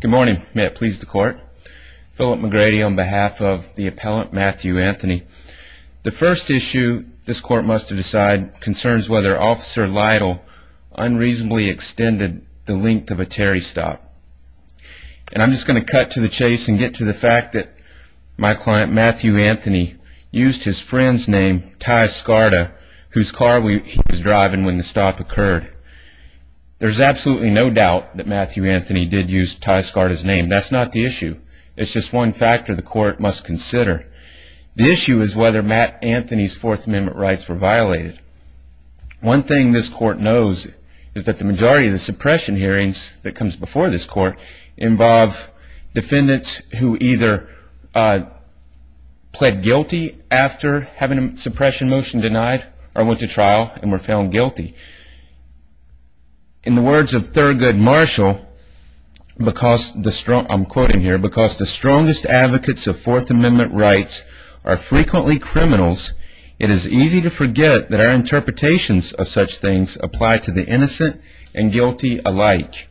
Good morning. May it please the court. Philip McGrady on behalf of the appellant Matthew Anthony. The first issue this court must decide concerns whether Officer Lytle unreasonably extended the length of a Terry stop. And I'm just going to cut to the chase and get to the fact that my client Matthew Anthony used his friend's name, Ty Scarta, whose car he was driving when the stop occurred. There's absolutely no doubt that Matthew Anthony did use Ty Scarta's name. That's not the issue. It's just one factor the court must consider. The issue is whether Matt Anthony's Fourth Amendment rights were violated. One thing this court knows is that the majority of the suppression hearings that comes before this court involve defendants who either pled guilty after having a suppression motion denied or went to trial and were found guilty. In the words of Thurgood Marshall, I'm quoting here, because the strongest advocates of Fourth Amendment rights are frequently criminals, it is easy to forget that our interpretations of such things apply to the innocent and guilty alike.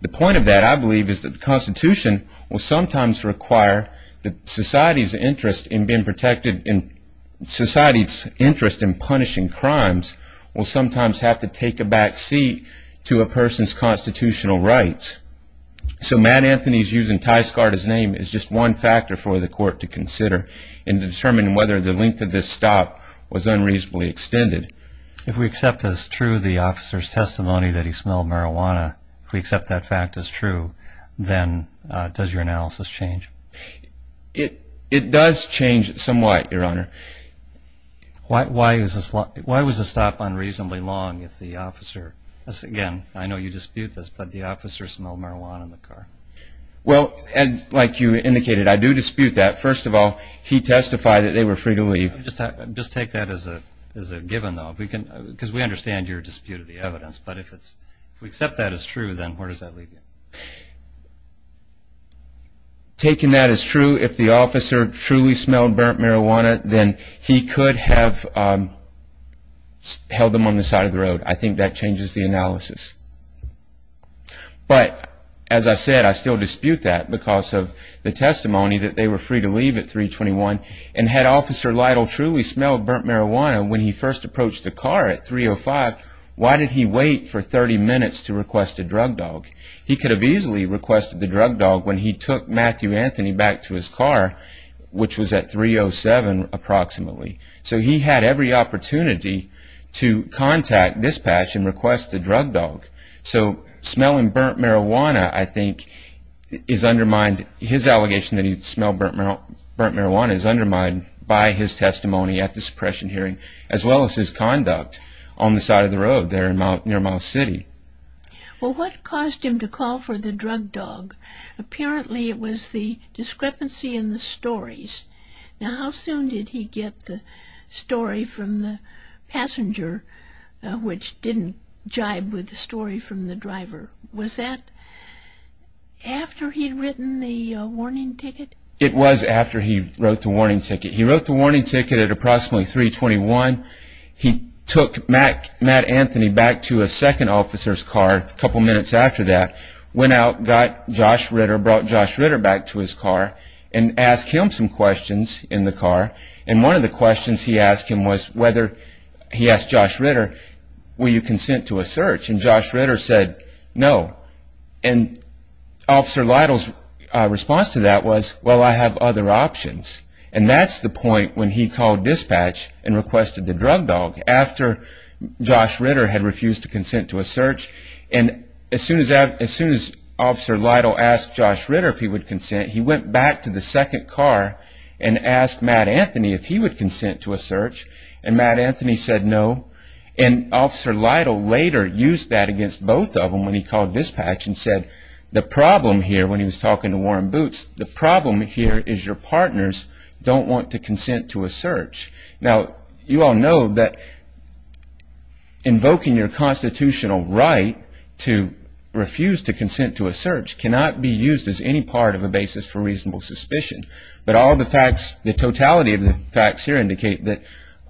The point of that, I believe, is that the Constitution will sometimes require that society's interest in being protected and society's interest in punishing crimes will sometimes have to take a back seat to a person's constitutional rights. So Matt Anthony's using Ty Scarta's name is just one factor for the court to consider in determining whether the length of this stop was unreasonably extended. If we accept as true the officer's testimony that he smelled marijuana, if we accept that fact as true, then does your analysis change? It does change somewhat, Your Honor. Why was the stop unreasonably long if the officer, again, I know you dispute this, but the officer smelled marijuana in the car? Well, like you indicated, I do dispute that. First of all, he testified that they were free to leave. Just take that as a given, though, because we understand your dispute of the evidence. But if we accept that as true, then where does that leave you? Taking that as true, if the officer truly smelled burnt marijuana, then he could have held them on the side of the road. I think that changes the analysis. But as I said, I still dispute that because of the testimony that they were free to leave at 321. And had Officer Lytle truly smelled burnt marijuana when he first approached the car at 305, why did he wait for 30 minutes to request a drug dog? He could have easily requested the drug dog when he took Matthew Anthony back to his car, which was at 307 approximately. So he had every opportunity to contact, dispatch, and request the drug dog. So smelling burnt marijuana, I think, is undermined. His allegation that he smelled burnt marijuana is undermined by his testimony at the suppression hearing, as well as his conduct on the side of the road there near Miles City. Well, what caused him to call for the drug dog? Apparently it was the discrepancy in the stories. Now, how soon did he get the story from the passenger, which didn't jibe with the story from the driver? Was that after he'd written the warning ticket? It was after he wrote the warning ticket. He wrote the warning ticket at approximately 321. He took Matt Anthony back to a second officer's car a couple minutes after that, went out, got Josh Ritter, brought Josh Ritter back to his car, and asked him some questions in the car. And one of the questions he asked him was whether he asked Josh Ritter, will you consent to a search? And Josh Ritter said no. And Officer Lytle's response to that was, well, I have other options. And that's the point when he called dispatch and requested the drug dog, after Josh Ritter had refused to consent to a search. And as soon as Officer Lytle asked Josh Ritter if he would consent, he went back to the second car and asked Matt Anthony if he would consent to a search. And Matt Anthony said no. And Officer Lytle later used that against both of them when he called dispatch and said, the problem here, when he was talking to Warren Boots, the problem here is your partners don't want to consent to a search. Now, you all know that invoking your constitutional right to refuse to consent to a search cannot be used as any part of a basis for reasonable suspicion. But all the facts, the totality of the facts here indicate that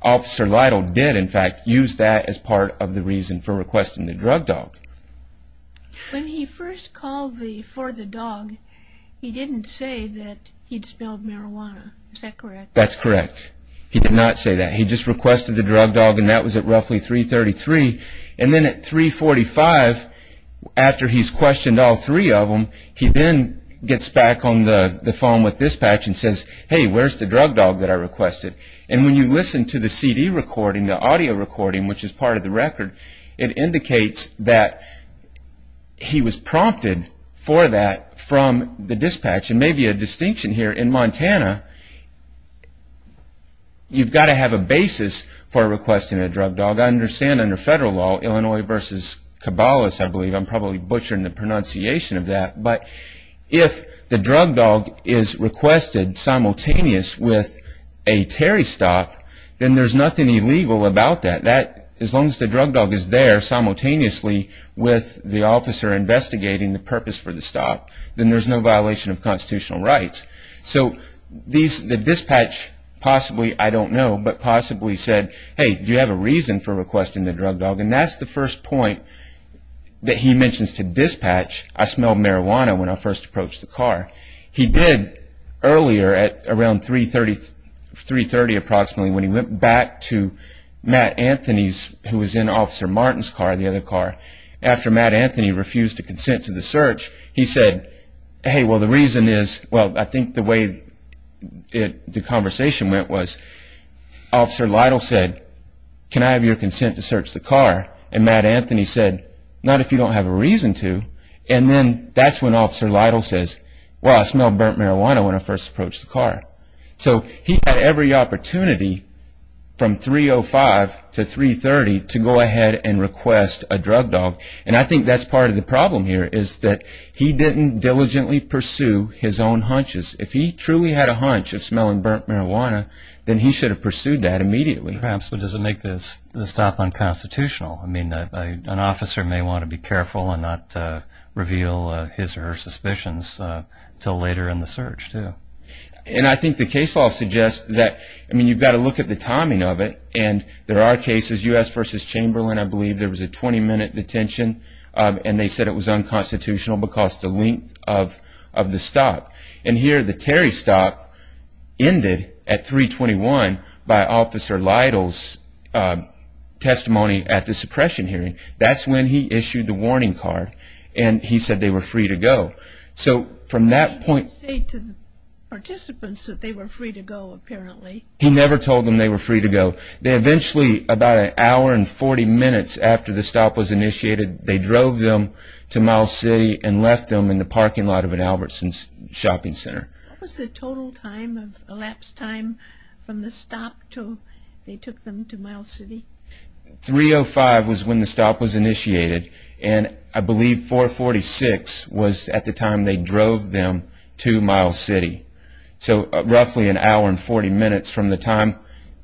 Officer Lytle did, in fact, use that as part of the reason for requesting the drug dog. When he first called for the dog, he didn't say that he'd smelled marijuana. Is that correct? That's correct. He did not say that. He just requested the drug dog, and that was at roughly 333. And then at 345, after he's questioned all three of them, he then gets back on the phone with dispatch and says, hey, where's the drug dog that I requested? And when you listen to the CD recording, the audio recording, which is part of the record, it indicates that he was prompted for that from the dispatch. And maybe a distinction here, in Montana, you've got to have a basis for requesting a drug dog. I understand under federal law, Illinois v. Cabalas, I believe, I'm probably butchering the pronunciation of that, but if the drug dog is requested simultaneous with a Terry stock, then there's nothing illegal about that. As long as the drug dog is there simultaneously with the officer investigating the purpose for the stock, then there's no violation of constitutional rights. So the dispatch possibly, I don't know, but possibly said, hey, do you have a reason for requesting the drug dog? And that's the first point that he mentions to dispatch, I smelled marijuana when I first approached the car. He did earlier at around 3.30 approximately, when he went back to Matt Anthony's, who was in Officer Martin's car, the other car, after Matt Anthony refused to consent to the search, he said, hey, well, the reason is, well, I think the way the conversation went was Officer Lytle said, can I have your consent to search the car? And Matt Anthony said, not if you don't have a reason to. And then that's when Officer Lytle says, well, I smelled burnt marijuana when I first approached the car. So he had every opportunity from 3.05 to 3.30 to go ahead and request a drug dog, and I think that's part of the problem here is that he didn't diligently pursue his own hunches. If he truly had a hunch of smelling burnt marijuana, then he should have pursued that immediately. Perhaps, but does it make the stop unconstitutional? I mean, an officer may want to be careful and not reveal his or her suspicions until later in the search, too. And I think the case law suggests that, I mean, you've got to look at the timing of it, and there are cases, U.S. v. Chamberlain, I believe there was a 20-minute detention, and they said it was unconstitutional because of the length of the stop. And here the Terry stop ended at 3.21 by Officer Lytle's testimony at the suppression hearing. That's when he issued the warning card, and he said they were free to go. So from that point... He didn't say to the participants that they were free to go, apparently. He never told them they were free to go. They eventually, about an hour and 40 minutes after the stop was initiated, they drove them to Miles City and left them in the parking lot of an Albertson's shopping center. What was the total time of elapsed time from the stop till they took them to Miles City? 3.05 was when the stop was initiated, and I believe 4.46 was at the time they drove them to Miles City. So roughly an hour and 40 minutes from the time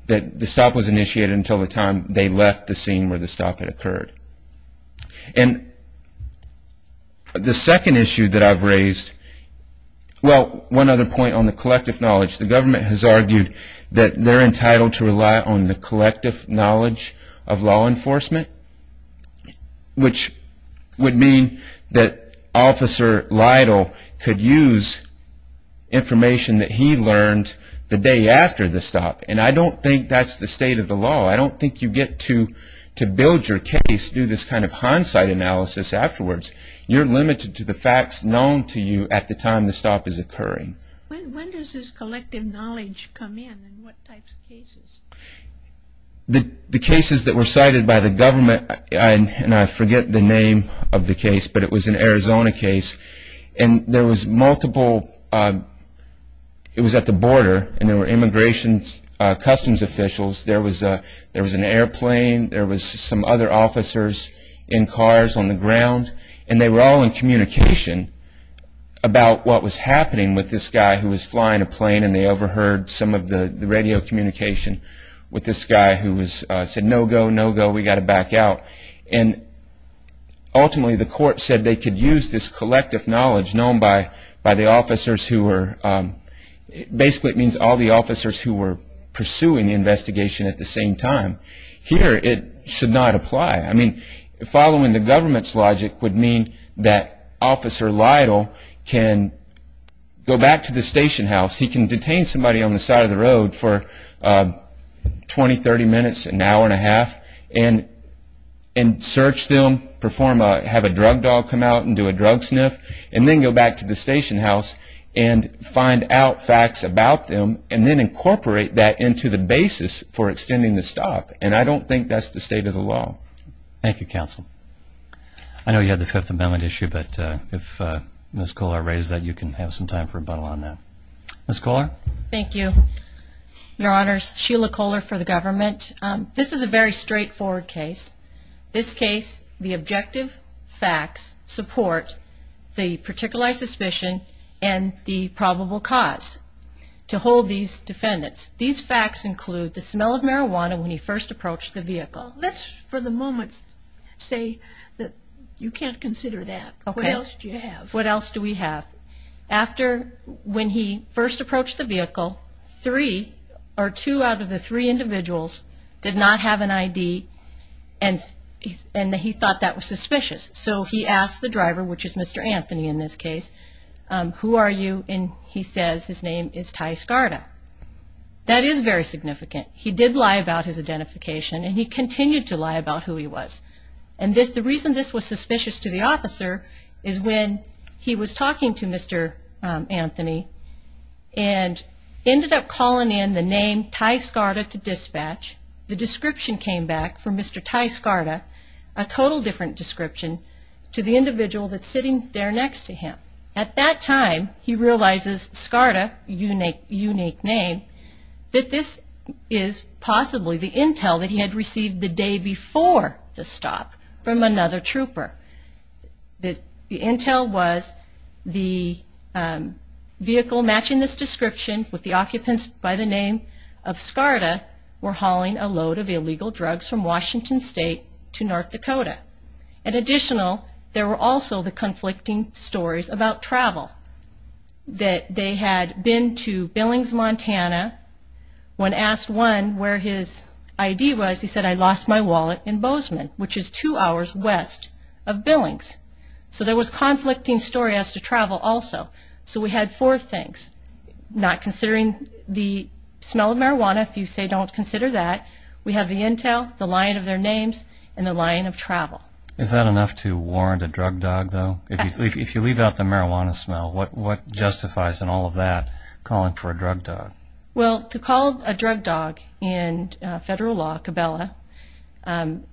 that the stop was initiated until the time they left the scene where the stop had occurred. And the second issue that I've raised... Well, one other point on the collective knowledge. The government has argued that they're entitled to rely on the collective knowledge of law enforcement, which would mean that Officer Lytle could use information that he learned the day after the stop. And I don't think that's the state of the law. I don't think you get to build your case through this kind of hindsight analysis afterwards. You're limited to the facts known to you at the time the stop is occurring. When does this collective knowledge come in, and what types of cases? The cases that were cited by the government, and I forget the name of the case, but it was an Arizona case, and there was multiple... It was at the border, and there were immigration customs officials. There was an airplane. There was some other officers in cars on the ground, and they were all in communication about what was happening with this guy who was flying a plane, and they overheard some of the radio communication with this guy who said, no go, no go, we've got to back out. And ultimately, the court said they could use this collective knowledge known by the officers who were... Basically, it means all the officers who were pursuing the investigation at the same time. Here, it should not apply. I mean, following the government's logic would mean that Officer Lytle can go back to the station house. He can detain somebody on the side of the road for 20, 30 minutes, an hour and a half, and search them, have a drug dog come out and do a drug sniff, and then go back to the station house and find out facts about them, and then incorporate that into the basis for extending the stop, and I don't think that's the state of the law. Thank you, Counsel. I know you had the Fifth Amendment issue, but if Ms. Kollar raised that, you can have some time for rebuttal on that. Ms. Kollar? Thank you, Your Honors. Sheila Kollar for the government. This is a very straightforward case. This case, the objective facts support the particularized suspicion and the probable cause to hold these defendants. These facts include the smell of marijuana when he first approached the vehicle. Let's, for the moment, say that you can't consider that. Okay. What else do you have? What else do we have? After when he first approached the vehicle, three or two out of the three individuals did not have an ID, and he thought that was suspicious. So he asked the driver, which is Mr. Anthony in this case, who are you, and he says his name is Ty Scarda. That is very significant. He did lie about his identification, and he continued to lie about who he was. The reason this was suspicious to the officer is when he was talking to Mr. Anthony and ended up calling in the name Ty Scarda to dispatch, the description came back for Mr. Ty Scarda, a total different description to the individual that's sitting there next to him. At that time, he realizes Scarda, a unique name, that this is possibly the intel that he had received the day before the stop from another trooper, that the intel was the vehicle matching this description with the occupants by the name of Scarda were hauling a load of illegal drugs from Washington State to North Dakota. In additional, there were also the conflicting stories about travel, that they had been to Billings, Montana. When asked one where his ID was, he said, I lost my wallet in Bozeman, which is two hours west of Billings. So there was conflicting story as to travel also. So we had four things, not considering the smell of marijuana, if you say don't consider that. We have the intel, the line of their names, and the line of travel. Is that enough to warrant a drug dog, though? If you leave out the marijuana smell, what justifies in all of that calling for a drug dog? Well, to call a drug dog in federal law, cabela,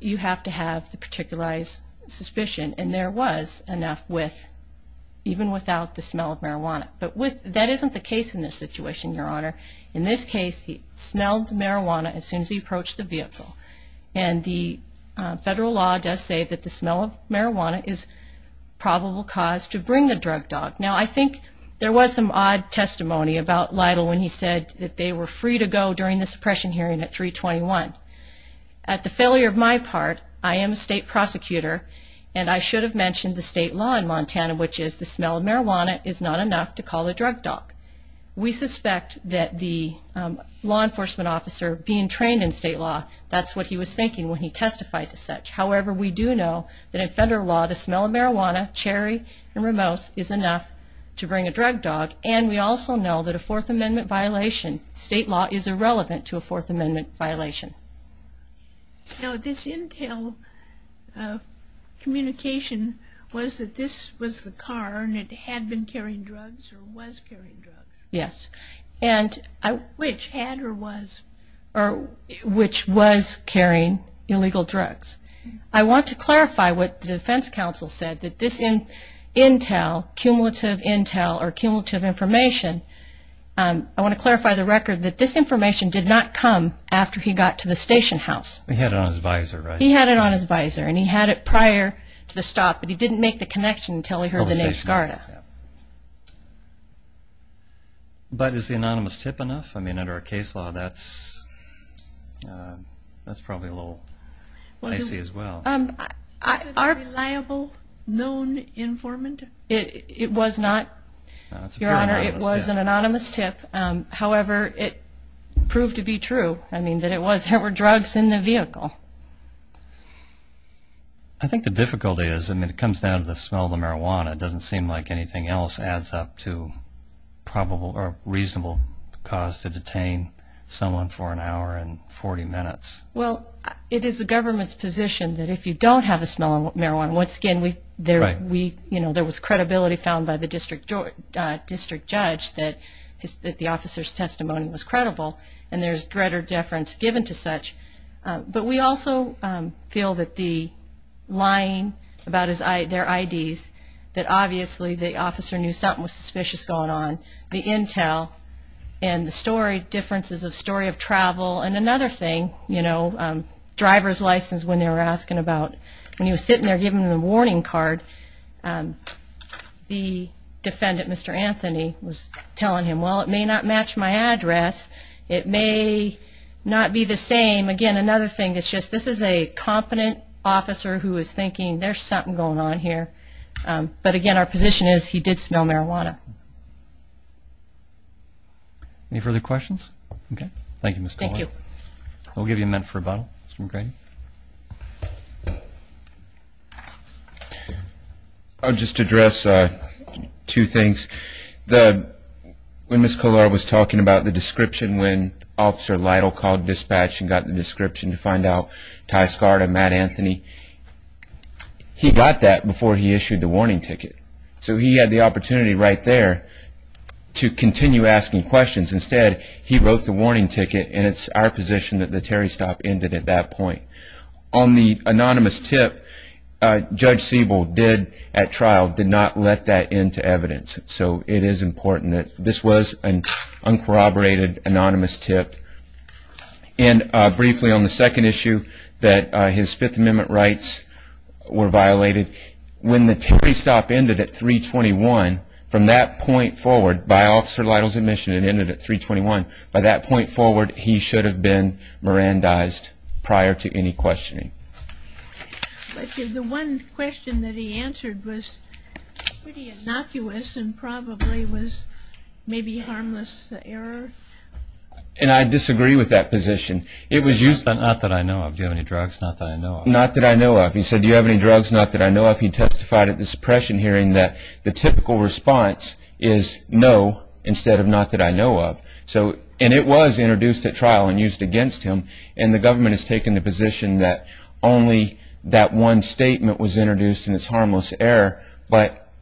you have to have the particularized suspicion. And there was enough even without the smell of marijuana. But that isn't the case in this situation, Your Honor. In this case, he smelled marijuana as soon as he approached the vehicle. And the federal law does say that the smell of marijuana is probable cause to bring the drug dog. Now, I think there was some odd testimony about Lytle when he said that they were free to go during the suppression hearing at 321. At the failure of my part, I am a state prosecutor, and I should have mentioned the state law in Montana, which is the smell of marijuana is not enough to call a drug dog. We suspect that the law enforcement officer being trained in state law, that's what he was thinking when he testified to such. However, we do know that in federal law, the smell of marijuana, cherry, and rimose is enough to bring a drug dog. And we also know that a Fourth Amendment violation, state law, is irrelevant to a Fourth Amendment violation. Now, this intel communication was that this was the car, and it had been carrying drugs or was carrying drugs? Yes. Which, had or was? Which was carrying illegal drugs. I want to clarify what the defense counsel said, that this intel, cumulative intel or cumulative information, I want to clarify the record that this information did not come after he got to the station house. He had it on his visor, right? He had it on his visor, and he had it prior to the stop, but he didn't make the connection until he heard the name Skarda. But is the anonymous tip enough? I mean, under our case law, that's probably a little icy as well. Was it a reliable, known informant? It was not, Your Honor. It was an anonymous tip. However, it proved to be true, I mean, that there were drugs in the vehicle. I think the difficulty is, I mean, it comes down to the smell of the marijuana. It doesn't seem like anything else adds up to probable or reasonable cause to detain someone for an hour and 40 minutes. Well, it is the government's position that if you don't have the smell of marijuana, once again, there was credibility found by the district judge that the officer's testimony was credible, and there's greater deference given to such. But we also feel that the lying about their IDs, that obviously the officer knew something was suspicious going on, the intel and the story differences of story of travel, and another thing, you know, driver's license when they were asking about, when he was sitting there giving them the warning card, the defendant, Mr. Anthony, was telling him, well, it may not match my address, it may not be the same. Again, another thing is just this is a competent officer who is thinking, there's something going on here. But again, our position is he did smell marijuana. Any further questions? Okay. Thank you, Ms. Collier. Thank you. We'll give you a minute for rebuttal, Mr. McGrady. I'll just address two things. When Ms. Collier was talking about the description when Officer Lytle called dispatch and got the description to find out Ty Scarda, Matt Anthony, he got that before he issued the warning ticket. So he had the opportunity right there to continue asking questions. Instead, he wrote the warning ticket, and it's our position that the Terry stop ended at that point. On the anonymous tip, Judge Siebel did at trial, did not let that into evidence. So it is important that this was an uncorroborated anonymous tip. And briefly on the second issue that his Fifth Amendment rights were violated, when the Terry stop ended at 321, from that point forward, by Officer Lytle's admission it ended at 321, by that point forward he should have been Mirandized prior to any questioning. The one question that he answered was pretty innocuous and probably was maybe harmless error. And I disagree with that position. Not that I know of. Do you have any drugs? Not that I know of. Not that I know of. He said, do you have any drugs? Not that I know of. He testified at the suppression hearing that the typical response is no instead of not that I know of. And it was introduced at trial and used against him, and the government has taken the position that only that one statement was introduced and it's harmless error. But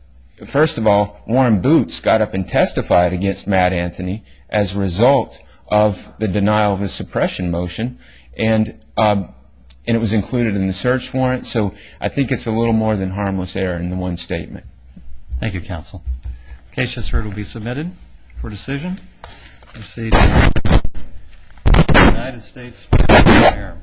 first of all, Warren Boots got up and testified against Matt Anthony as a result of the denial of the suppression motion, and it was included in the search warrant. So I think it's a little more than harmless error in the one statement. Thank you, Counsel. The case just heard will be submitted for decision. Proceed to the United States Court of Appearance.